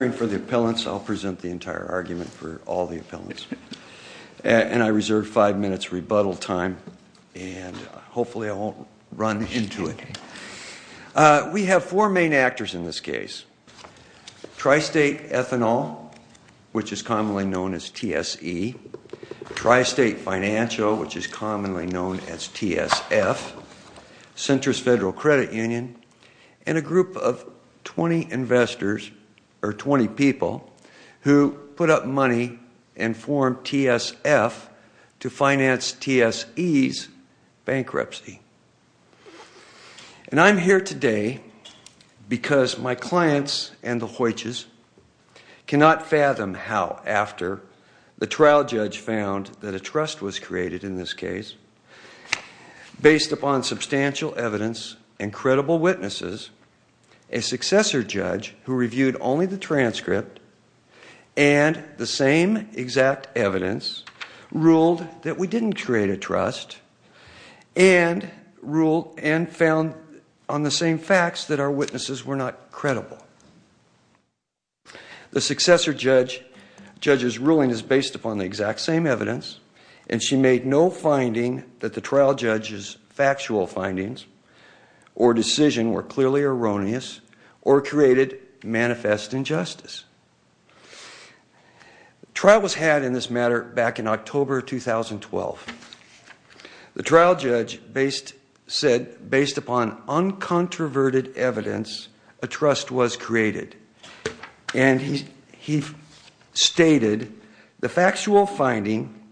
I'll present the entire argument for all the appellants and I reserve five minutes rebuttal time and hopefully I won't run into it. We have four main actors in this case Tri-State Ethanol which is commonly known as TSE, Tri-State Financial which is commonly known as TSF, Centris Federal Credit Union and a group of 20 investors or 20 people who put up money and formed TSF to finance TSE's bankruptcy and I'm here today because my clients and the Hoytches cannot fathom how after the trial judge found that a trust was created in this case based upon substantial evidence and credible witnesses a successor judge who reviewed only the transcript and the same exact evidence ruled that we didn't create a trust and ruled and found on the same facts that our witnesses were not credible. The successor judge judge's ruling is based upon the exact same evidence and she made no finding that the trial judge's factual findings or decision were clearly erroneous or created manifest injustice. The trial was had in this matter back in October 2012. The trial judge said based upon uncontroverted evidence a trust was created and he stated the factual finding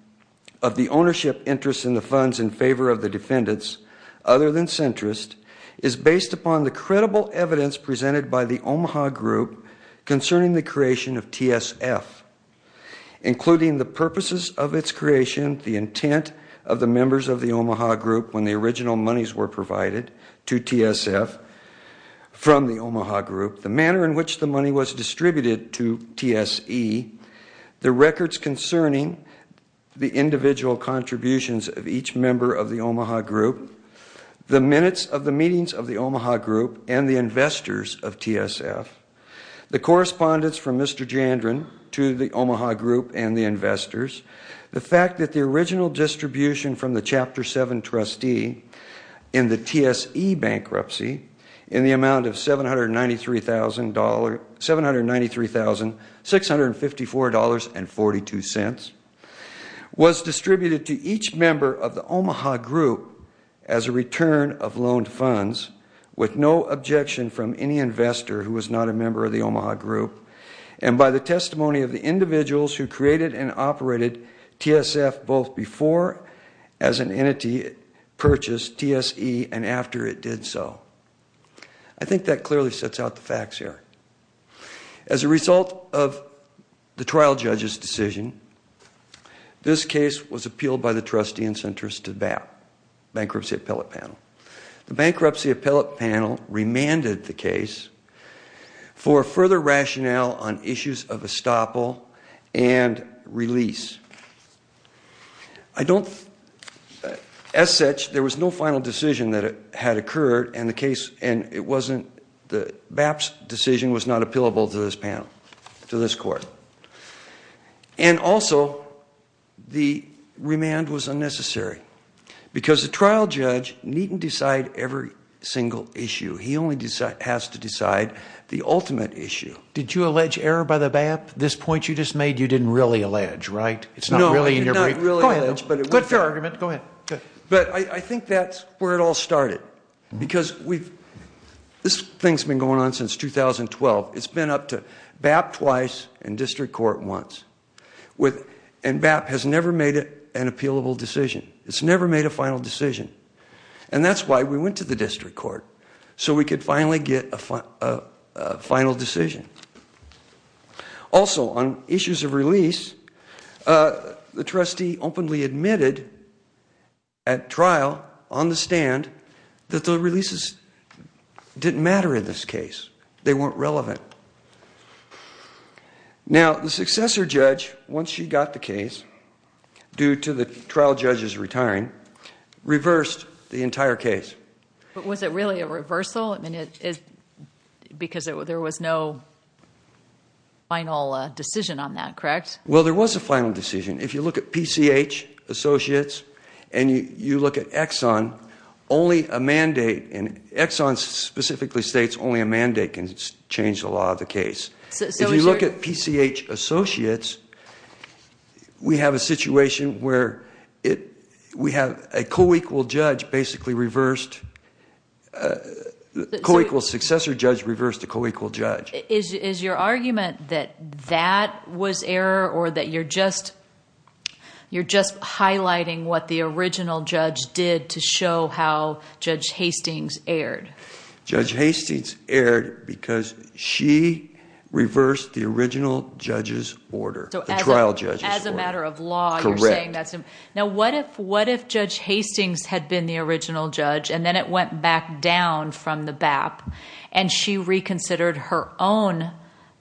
of the ownership interest in the funds in favor of the defendants other than centrist is based upon the credible evidence presented by the Omaha group concerning the creation of TSF including the purposes of its creation, the intent of the members of the Omaha group when the original monies were provided to TSF from the Omaha group, the manner in which the money was distributed to TSE, the records concerning the individual contributions of each member of the Omaha group, the minutes of the meetings of the Omaha group and the investors of TSF, the correspondence from Mr. Jandron to the Omaha group and the investors, the fact that the original distribution from the chapter 7 trustee in the TSE bankruptcy in the amount of $793,654.42 was distributed to each member of the Omaha group as a return of loaned funds with no objection from any investor who was not a member of the Omaha group and by the testimony of the individuals who created and operated TSF both before as an entity purchased TSE and after it did so. I think that clearly sets out the facts here. As a result of the trial judge's decision, this case was appealed by the trustee and centrist to the bankruptcy appellate panel. The bankruptcy appellate panel remanded the case for further rationale on issues of estoppel and release. I don't, as such, there was no final decision that had occurred and the case, and it wasn't, the BAP's decision was not appealable to this panel, to this court. And also the remand was unnecessary because the trial judge needn't decide every single issue. He only has to decide the ultimate issue. Did you allege error by the BAP? This point you just made, you didn't really allege, right? It's not really in your brief. Go ahead. But I think that's where it all started because we've, this thing's been going on since 2012. It's been up to BAP twice and district court once with, and BAP has never made it an appealable decision. It's never made a final decision. Also, on issues of release, the trustee openly admitted at trial, on the stand, that the releases didn't matter in this case. They weren't relevant. Now, the successor judge, once she got the case, due to the trial judge's retiring, reversed the entire case. But was it really a reversal? I mean, it, because there was no final decision on that, correct? Well, there was a final decision. If you look at PCH Associates and you look at Exxon, only a mandate, and Exxon specifically states only a mandate can change the law of the case. If you look at PCH Associates, we have a situation where we have a co-equal judge basically reversed, co-equal successor judge reversed a co-equal judge. Is your argument that that was error or that you're just highlighting what the original judge did to show how Judge Hastings erred? Judge Hastings erred because she reversed the original judge's order, the trial judge's order. As a matter of law, you're saying that's... Correct. Now, what if Judge Hastings had been the original judge and then it went back down from the BAP and she reconsidered her own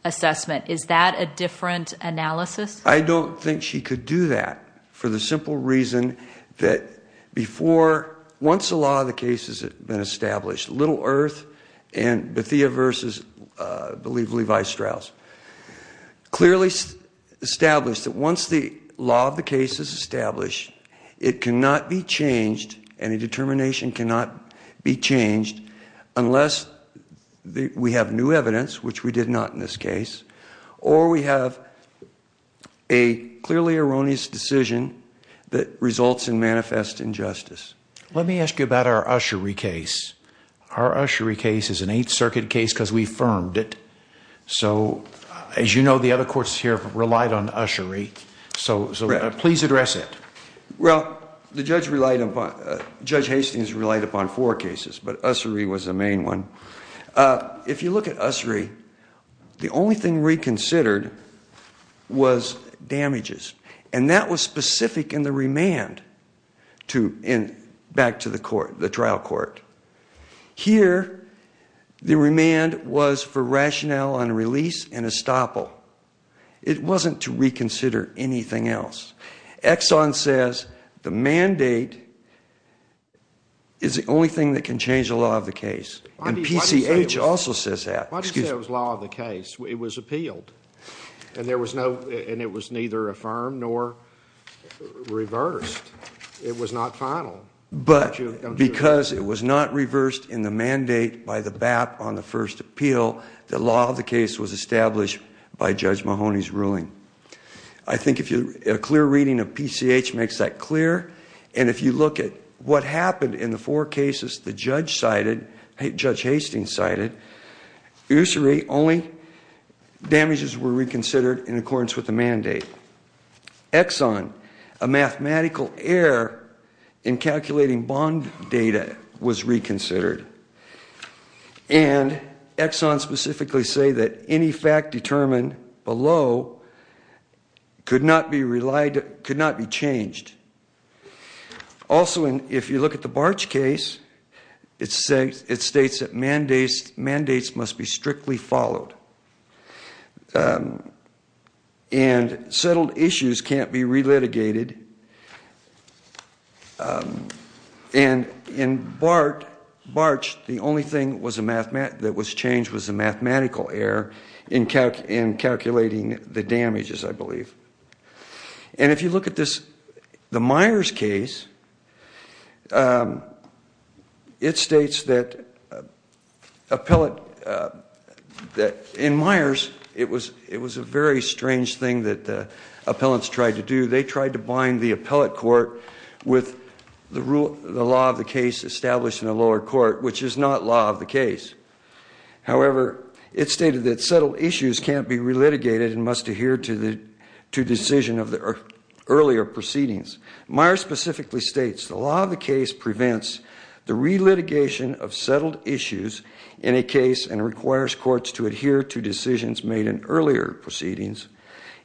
assessment? Is that a different analysis? I don't think she could do that for the simple reason that before... once the law of the case has been established, Little Earth and Bethea v. I believe Levi Strauss clearly established that once the law of the case is established, it cannot be changed and a determination cannot be changed unless we have new evidence, which we did not in this case, or we have a clearly erroneous decision that results in manifest injustice. Let me ask you about our Ussery case. Our Ussery case is an Eighth Circuit case because we firmed it. As you know, the other courts here have relied on Ussery, so please address it. Well, Judge Hastings relied upon four cases, but Ussery was the main one. If you look at Ussery, the only thing reconsidered was damages. That was specific in the remand back to the trial court. Here the remand was for rationale on release and estoppel. It wasn't to reconsider anything else. Exxon says the mandate is the only thing that can change the law of the case, and PCH also says that. Why do you say it was law of the case? It was appealed, and it was neither affirmed nor reversed. It was not final. Because it was not reversed in the mandate by the BAP on the first appeal, the law of the case was established by Judge Mahoney's ruling. I think a clear reading of PCH makes that clear, and if you look at what damages were reconsidered in accordance with the mandate, Exxon, a mathematical error in calculating bond data, was reconsidered. And Exxon specifically say that any fact determined below could not be changed. Also, if you look at the Barch case, it states that mandates must be strictly followed, and settled issues can't be relitigated. And in Barch, the only thing that was changed was a mathematical error in calculating the damages, I believe. And if you look at the Myers case, it states that in Myers, it was a very strange thing that the appellants tried to do. They tried to bind the appellate court with the law of the case established in the lower court, which is not law of the case. However, it stated that settled issues can't be relitigated and must adhere to decision of the earlier proceedings. Myers specifically states, the law of the case prevents the relitigation of settled issues in a case and requires courts to adhere to decisions made in earlier proceedings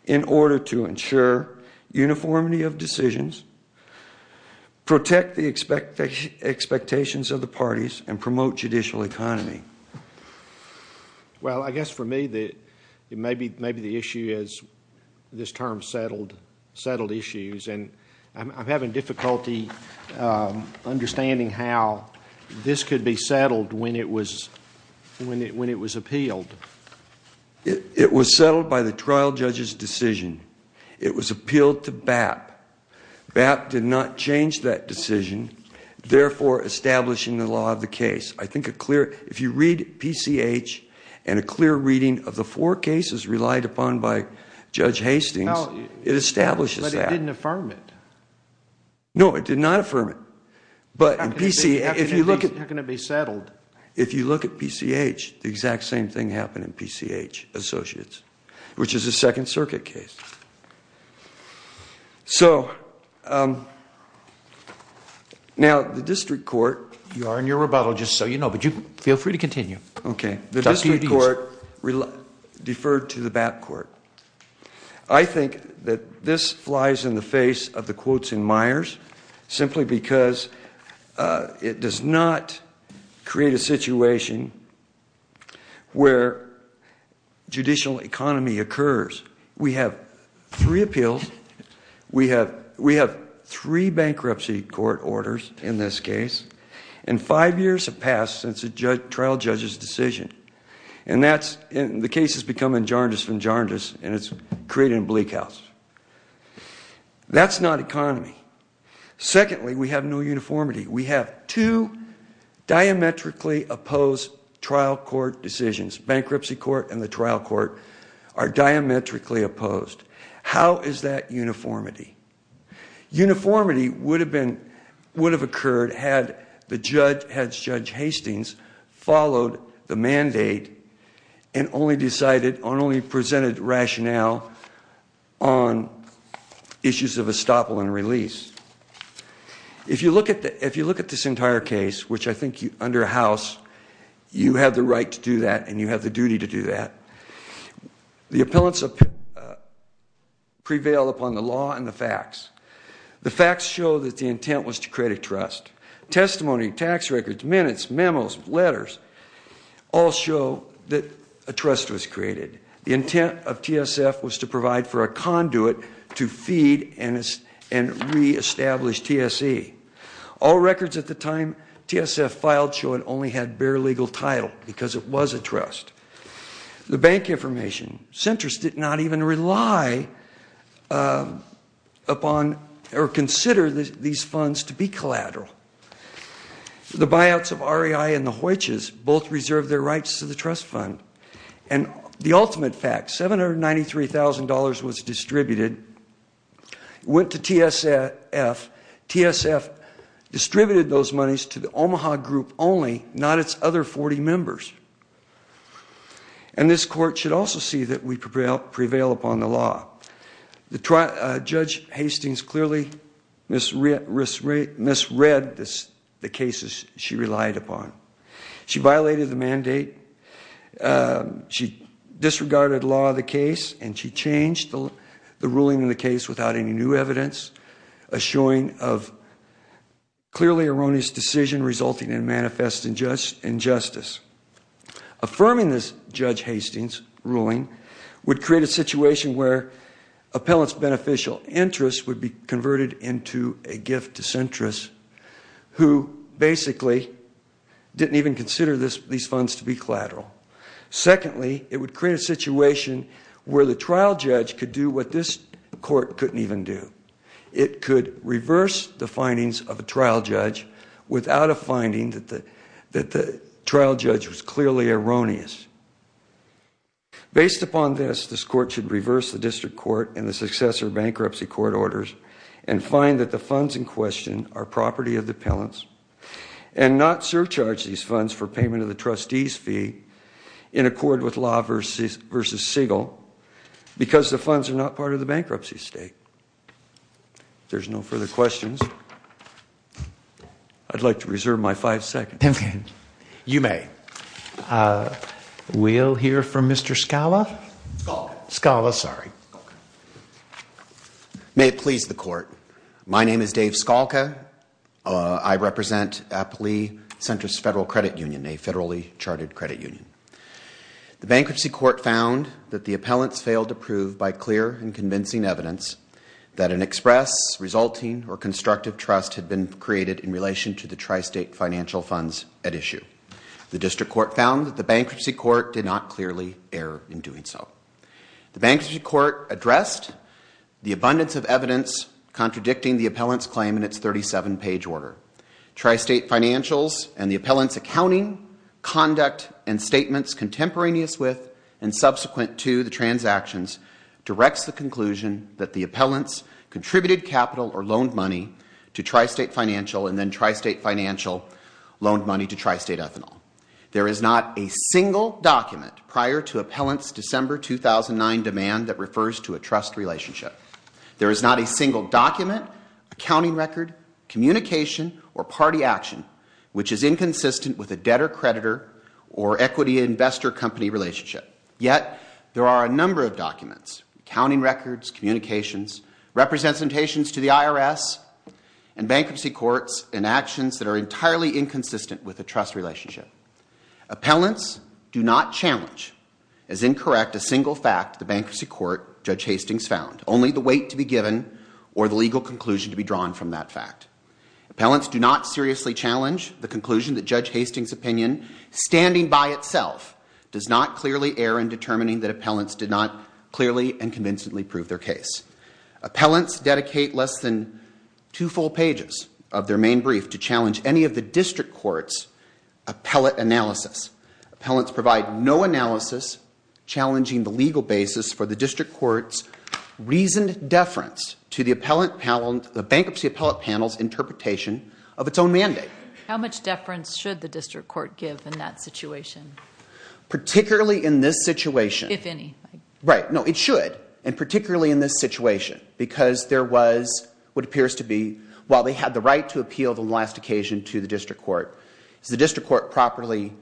in order to ensure uniformity of decisions, protect the expectations of the parties, and promote judicial economy. Well, I guess for me, maybe the issue is this term, settled issues. And I'm having difficulty understanding how this could be settled when it was appealed. It was settled by the trial judge's decision. It was appealed to BAP. BAP did not change that decision, therefore establishing the law of the case. I think if you read PCH and a clear reading of the four cases relied upon by Judge Hastings, it establishes that. It did not affirm it. No, it did not affirm it. But in PCH, if you look at it, if you look at PCH, the exact same thing happened in PCH, Associates, which is a Second Circuit case. So now, the district court. You are in your rebuttal, just so you know. But you feel free to continue. OK, the district court deferred to the BAP court. I think that this flies in the face of the quotes in Myers, simply because it does not create a situation where judicial economy occurs. We have three appeals. We have three bankruptcy court orders, in this case. And five years have passed since the trial judge's decision. And the case has become injurious and injurious, and it's creating a bleak house. That's not economy. Secondly, we have no uniformity. We have two diametrically opposed trial court decisions. Bankruptcy court and the trial court are diametrically opposed. How is that uniformity? Uniformity would have occurred had the judge, Judge Hastings, followed the mandate and only presented rationale on issues of estoppel and release. If you look at this entire case, which I think under House, you have the right to do that, and you have the duty to do that. The appellants prevail upon the law and the facts. The facts show that the intent was to create a trust. Testimony, tax records, minutes, memos, letters, all show that a trust was created. The intent of TSF was to provide for a conduit to feed and re-establish TSE. All records at the time TSF filed show it only had bare legal title because it was a trust. The bank information centers did not even rely upon or consider these funds to be collateral. The buyouts of REI and the Hoytches both reserved their rights to the trust fund. And the ultimate fact, $793,000 was distributed, went to TSF, TSF distributed those monies to the Omaha group only, not its other 40 members. And this court should also see that we prevail upon the law. The judge Hastings clearly misread the cases she relied upon. She violated the mandate, she disregarded law of the case, and she changed the ruling in the case without any new evidence, a showing of clearly erroneous decision resulting Affirming this judge Hastings' ruling would create a situation where appellant's beneficial interests would be converted into a gift to centrists who basically didn't even consider these funds to be collateral. Secondly, it would create a situation where the trial judge could do what this court couldn't even do. It could reverse the findings of a trial judge without a finding that the trial judge was clearly erroneous. Based upon this, this court should reverse the district court and the successor bankruptcy court orders and find that the funds in question are property of the appellants and not surcharge these funds for payment of the trustee's fee in accord with law versus Siegel because the funds are not part of the bankruptcy state. If there's no further questions, I'd like to reserve my five seconds. You may. We'll hear from Mr. Scala. Scala, sorry. May it please the court. My name is Dave Scalca. I represent Applee Centrist Federal Credit Union, a federally charted credit union. The bankruptcy court found that the appellants failed to prove by clear and convincing evidence that an express, resulting, or constructive trust had been created in relation to the tri-state financial funds at issue. The district court found that the bankruptcy court did not clearly err in doing so. The bankruptcy court addressed the abundance of evidence contradicting the appellant's claim in its 37-page order. Tri-state financials and the appellant's accounting, conduct, and statements contemporaneous with and subsequent to the transactions directs the conclusion that the appellants contributed capital or loaned money to tri-state financial and then tri-state financial loaned money to tri-state ethanol. There is not a single document prior to appellant's December 2009 demand that refers to a trust relationship. There is not a single document, accounting record, communication, or party action which is inconsistent with a debtor-creditor or equity investor-company relationship. Yet there are a number of documents, accounting records, communications, representations to the IRS, and bankruptcy courts and actions that are entirely inconsistent with a trust relationship. Appellants do not challenge as incorrect a single fact the bankruptcy court, Judge Hastings, found, only the weight to be given or the legal conclusion to be drawn from that fact. Appellants do not seriously challenge the conclusion that Judge Hastings' opinion, standing by itself, does not clearly err in determining that appellants did not clearly and convincingly prove their case. Appellants dedicate less than two full pages of their main brief to challenge any of the district court's appellate analysis. Appellants provide no analysis challenging the legal basis for the district court's reasoned deference to the bankruptcy appellate panel's interpretation of its own mandate. How much deference should the district court give in that situation? Particularly in this situation. If any. Right, no, it should. And particularly in this situation. Because there was, what appears to be, while they had the right to appeal on the last occasion to the district court, the district court properly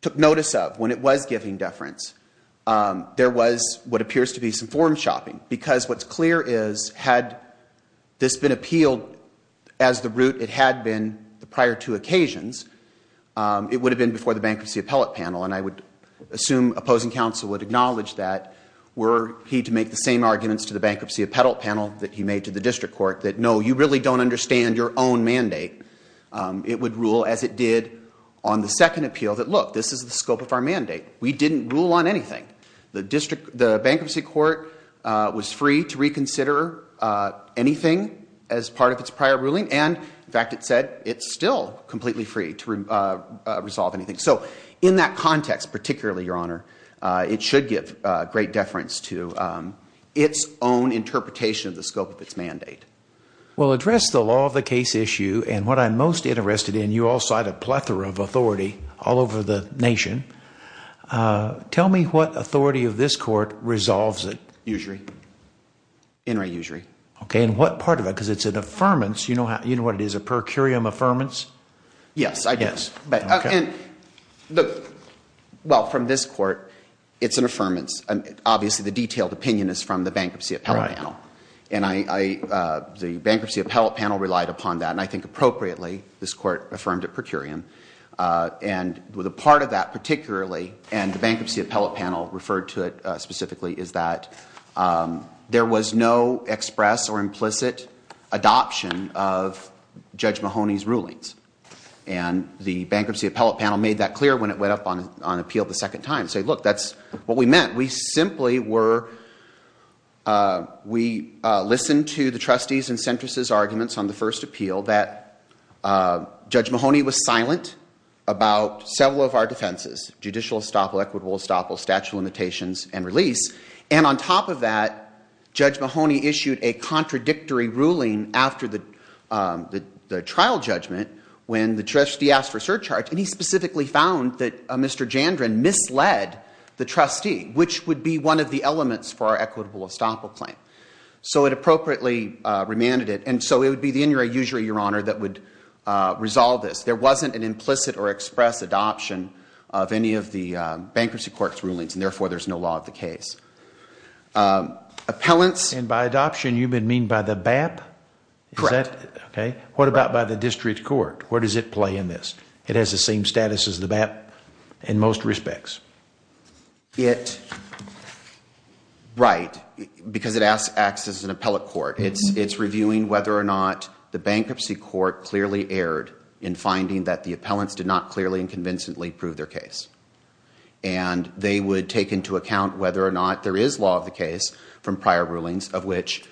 took notice of, when it was giving deference, there was, what appears to be, some form shopping. Because what's clear is, had this been appealed as the route it had been the prior two occasions, it would have been before the bankruptcy appellate panel. And I would assume opposing counsel would acknowledge that, were he to make the same arguments to the bankruptcy appellate panel that he made to the district court, that no, you really don't understand your own mandate. It would rule, as it did on the second appeal, that look, this is the scope of our mandate. We didn't rule on anything. The district, the bankruptcy court was free to reconsider anything as part of its prior ruling. And in fact, it said, it's still completely free to resolve anything. So in that context, particularly, Your Honor, it should give great deference to its own interpretation of the scope of its mandate. Well, address the law of the case issue. And what I'm most interested in, you all cite a plethora of authority all over the nation. Tell me what authority of this court resolves it. Usury. In re usury. OK, and what part of it? Because it's an affirmance. You know what it is? A per curiam affirmance? Yes, I do. Yes. And look, well, from this court, it's an affirmance. Obviously, the detailed opinion is from the bankruptcy appellate panel. And the bankruptcy appellate panel relied upon that. And I think appropriately, this court affirmed it per curiam. And with a part of that, particularly, and the bankruptcy appellate panel referred to it of Judge Mahoney's rulings. And the bankruptcy appellate panel made that clear when it went up on appeal the second time. Say, look, that's what we meant. We simply were, we listened to the trustees and centrists' arguments on the first appeal that Judge Mahoney was silent about several of our defenses. Judicial estoppel, equitable estoppel, statute of limitations, and release. And on top of that, Judge Mahoney issued a contradictory ruling after the trial judgment when the trustee asked for surcharge. And he specifically found that Mr. Jandrin misled the trustee, which would be one of the elements for our equitable estoppel claim. So it appropriately remanded it. And so it would be the injury usury, Your Honor, that would resolve this. There wasn't an implicit or express adoption of any of the bankruptcy court's rulings. And therefore, there's no law of the case. Appellants. And by adoption, you mean by the BAP? Correct. OK. What about by the district court? Where does it play in this? It has the same status as the BAP in most respects. Right. Because it acts as an appellate court. It's reviewing whether or not the bankruptcy court clearly erred in finding that the appellants did not clearly and convincingly prove their case. And they would take into account whether or not there is law of the case from prior rulings of which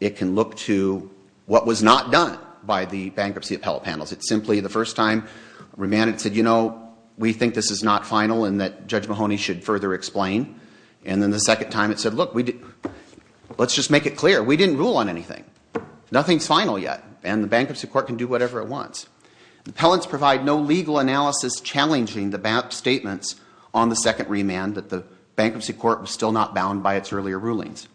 it can look to what was not done by the bankruptcy appellate panels. It simply, the first time, remanded, said, you know, we think this is not final and that Judge Mahoney should further explain. And then the second time, it said, look, let's just make it clear. We didn't rule on anything. Nothing's final yet. And the bankruptcy court can do whatever it wants. Appellants provide no legal analysis challenging the BAP statements on the second remand that the bankruptcy court was still not bound by its earlier rulings.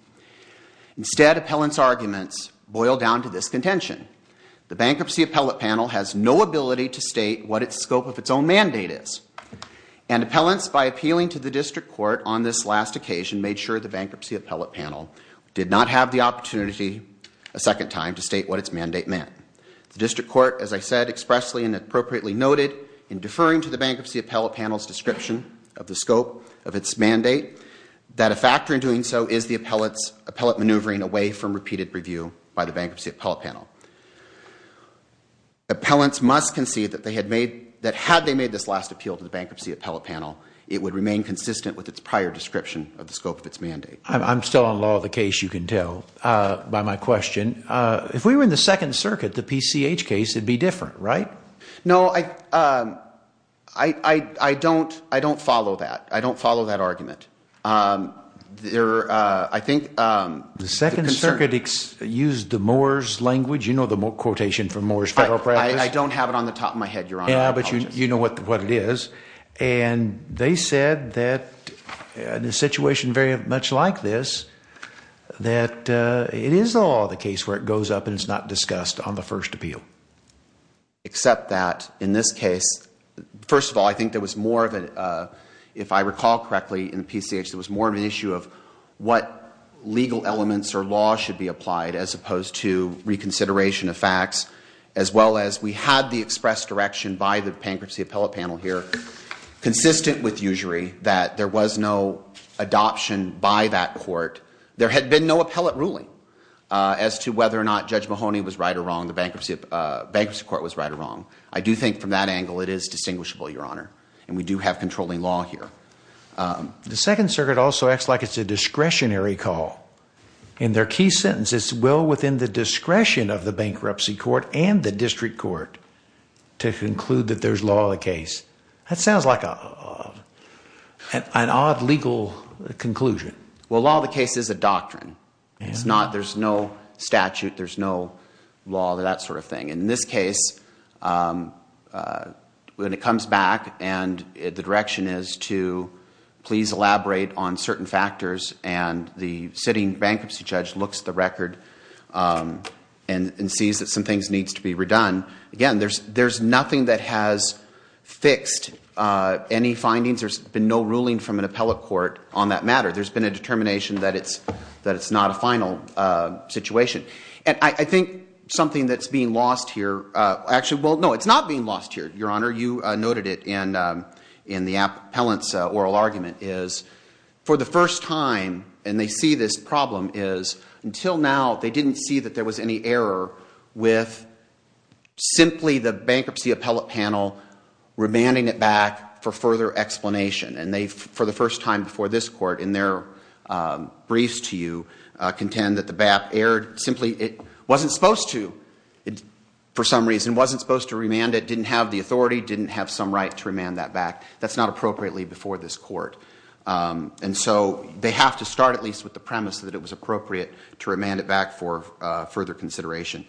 Instead, appellants' arguments boil down to this contention. The bankruptcy appellate panel has no ability to state what its scope of its own mandate is. And appellants, by appealing to the district court on this last occasion, made sure the bankruptcy appellate panel did not have the opportunity a second time to state what its mandate meant. The district court, as I said expressly and appropriately noted in deferring to the bankruptcy appellate panel's description of the scope of its mandate, that a factor in doing so is the appellate's appellate maneuvering away from repeated review by the bankruptcy appellate panel. Appellants must concede that had they made this last appeal to the bankruptcy appellate panel, it would remain consistent with its prior description of the scope of its mandate. I'm still on law of the case, you can tell by my question. If we were in the Second Circuit, the PCH case would be different, right? No, I don't follow that. I don't follow that argument. I think the Second Circuit used the Moore's language. You know the quotation from Moore's federal practice. I don't have it on the top of my head, Your Honor. But you know what it is. And they said that in a situation very much like this, that it is the law of the case where it goes up and it's not discussed on the first appeal. Except that in this case, first of all, I think there was more of a, if I recall correctly, in the PCH, there was more of an issue of what legal elements or law should be applied as opposed to reconsideration of facts. As well as we had the express direction by the bankruptcy appellate panel here, consistent with usury, that there was no adoption by that court. There had been no appellate ruling as to whether or not Judge Mahoney was right or wrong. The bankruptcy court was right or wrong. I do think from that angle, it is distinguishable, Your Honor. And we do have controlling law here. The Second Circuit also acts like it's a discretionary call. In their key sentence, it's well within the discretion of the bankruptcy court and the district court to conclude that there's law of the case. That sounds like an odd legal conclusion. Well, law of the case is a doctrine. There's no statute. There's no law, that sort of thing. In this case, when it comes back and the direction is to please elaborate on certain factors and the sitting bankruptcy judge looks at the record and sees that some things needs to be redone, again, there's nothing that has fixed any findings. There's been no ruling from an appellate court on that matter. There's been a determination that it's not a final situation. And I think something that's being lost here, actually, well, no, it's not being lost here, Your Honor. You noted it in the appellant's oral argument, is for the first time, and they see this problem, is until now, they didn't see that there was any error with simply the bankruptcy appellate panel remanding it back for further explanation. And they, for the first time before this court, in their briefs to you, contend that the BAP simply wasn't supposed to, for some reason, wasn't supposed to remand it, didn't have the authority, didn't have some right to remand that back. That's not appropriately before this court. And so they have to start, at least with the premise that it was appropriate to remand it back for further consideration.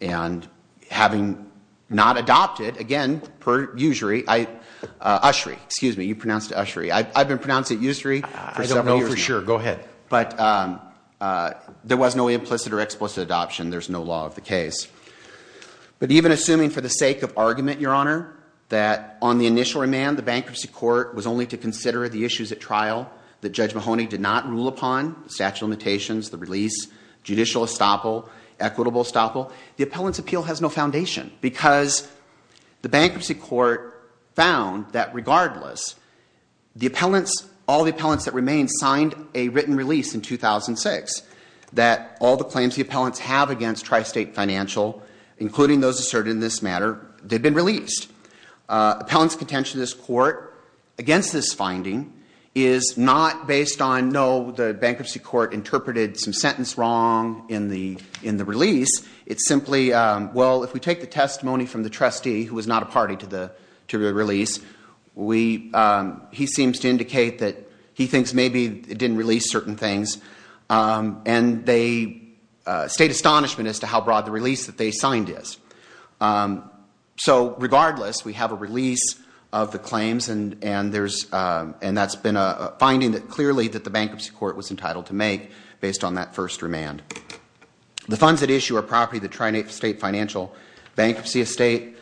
And having not adopted, again, per usury, ushery, excuse me, you pronounced it ushery. I've been pronouncing it ushery for several years now. I don't know for sure. Go ahead. But there was no implicit or explicit adoption. There's no law of the case. But even assuming for the sake of argument, Your Honor, that on the initial remand, the bankruptcy court was only to consider the issues at trial that Judge Mahoney did not rule upon, statute of limitations, the release, judicial estoppel, equitable estoppel, the appellant's appeal has no foundation. Because the bankruptcy court found that regardless, all the appellants that remain signed a written release in 2006, that all the claims the appellants have against Tri-State Financial, including those asserted in this matter, they've been released. Appellant's contention in this court against this finding is not based on, no, the bankruptcy court interpreted some sentence wrong in the release. It's simply, well, if we take the testimony from the trustee, who was not a party to the release, we, he seems to indicate that he thinks maybe it didn't release certain things. And they state astonishment as to how broad the release that they signed is. So regardless, we have a release of the claims. And that's been a finding that clearly that the bankruptcy court was entitled to make based on that first remand. The funds at issue are property of the Tri-State Financial Bankruptcy Estate.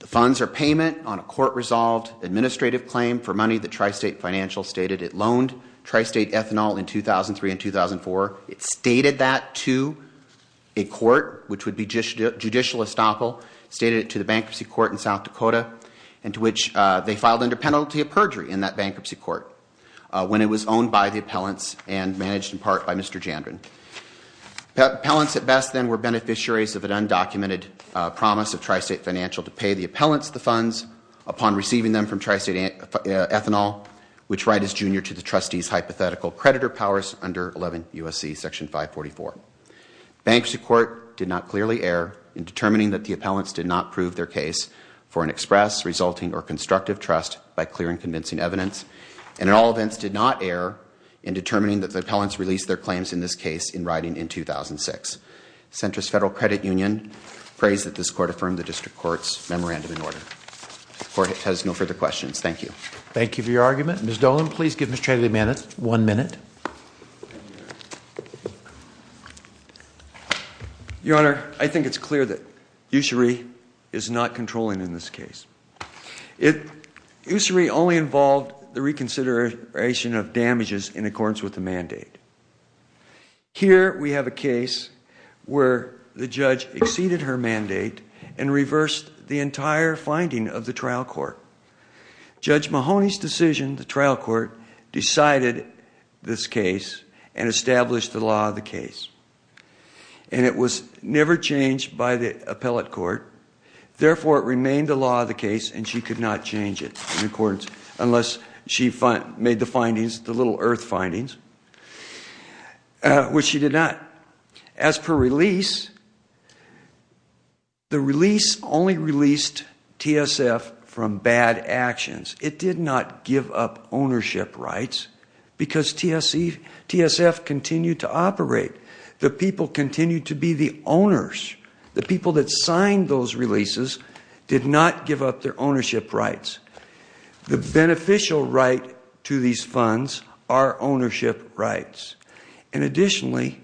The funds are payment on a court-resolved administrative claim for money that Tri-State Financial stated. It loaned Tri-State ethanol in 2003 and 2004. It stated that to a court, which would be judicial estoppel, stated it to the bankruptcy court in South Dakota, and to which they filed under penalty of perjury in that bankruptcy court, when it was owned by the appellants and managed in part by Mr. Jandron. Appellants at best, then, were beneficiaries of an undocumented promise of Tri-State Financial to pay the appellants the funds upon receiving them from Tri-State ethanol, which Wright is junior to the trustee's hypothetical creditor powers under 11 U.S.C. Section 544. Bankruptcy court did not clearly err in determining that the appellants did not prove their case for an express, resulting, or constructive trust by clear and convincing evidence. And in all events, did not err in determining that the appellants released their claims in this case in writing in 2006. Centrist Federal Credit Union prays that this court affirmed the district court's memorandum in order. The court has no further questions. Thank you. Thank you for your argument. Ms. Dolan, please give Mr. Haley one minute. Your Honor, I think it's clear that usury is not controlling in this case. Usury only involved the reconsideration of damages in accordance with the mandate. Here we have a case where the judge exceeded her mandate and reversed the entire finding of the trial court. Judge Mahoney's decision, the trial court, decided this case and established the law of the case. And it was never changed by the appellate court. Therefore, it remained the law of the case and she could not change it in accordance, unless she made the findings, the little earth findings, which she did not. As per release, the release only released TSF from bad actions. It did not give up ownership rights because TSF continued to operate. The people continued to be the owners. The people that signed those releases did not give up their ownership rights. The beneficial right to these funds are ownership rights. And additionally,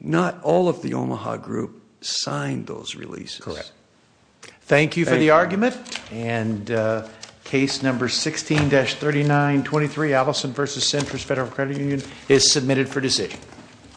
not all of the Omaha group signed those releases. Correct. Thank you for the argument. And case number 16-3923, Allison versus Centris Federal Credit Union, is submitted for decision.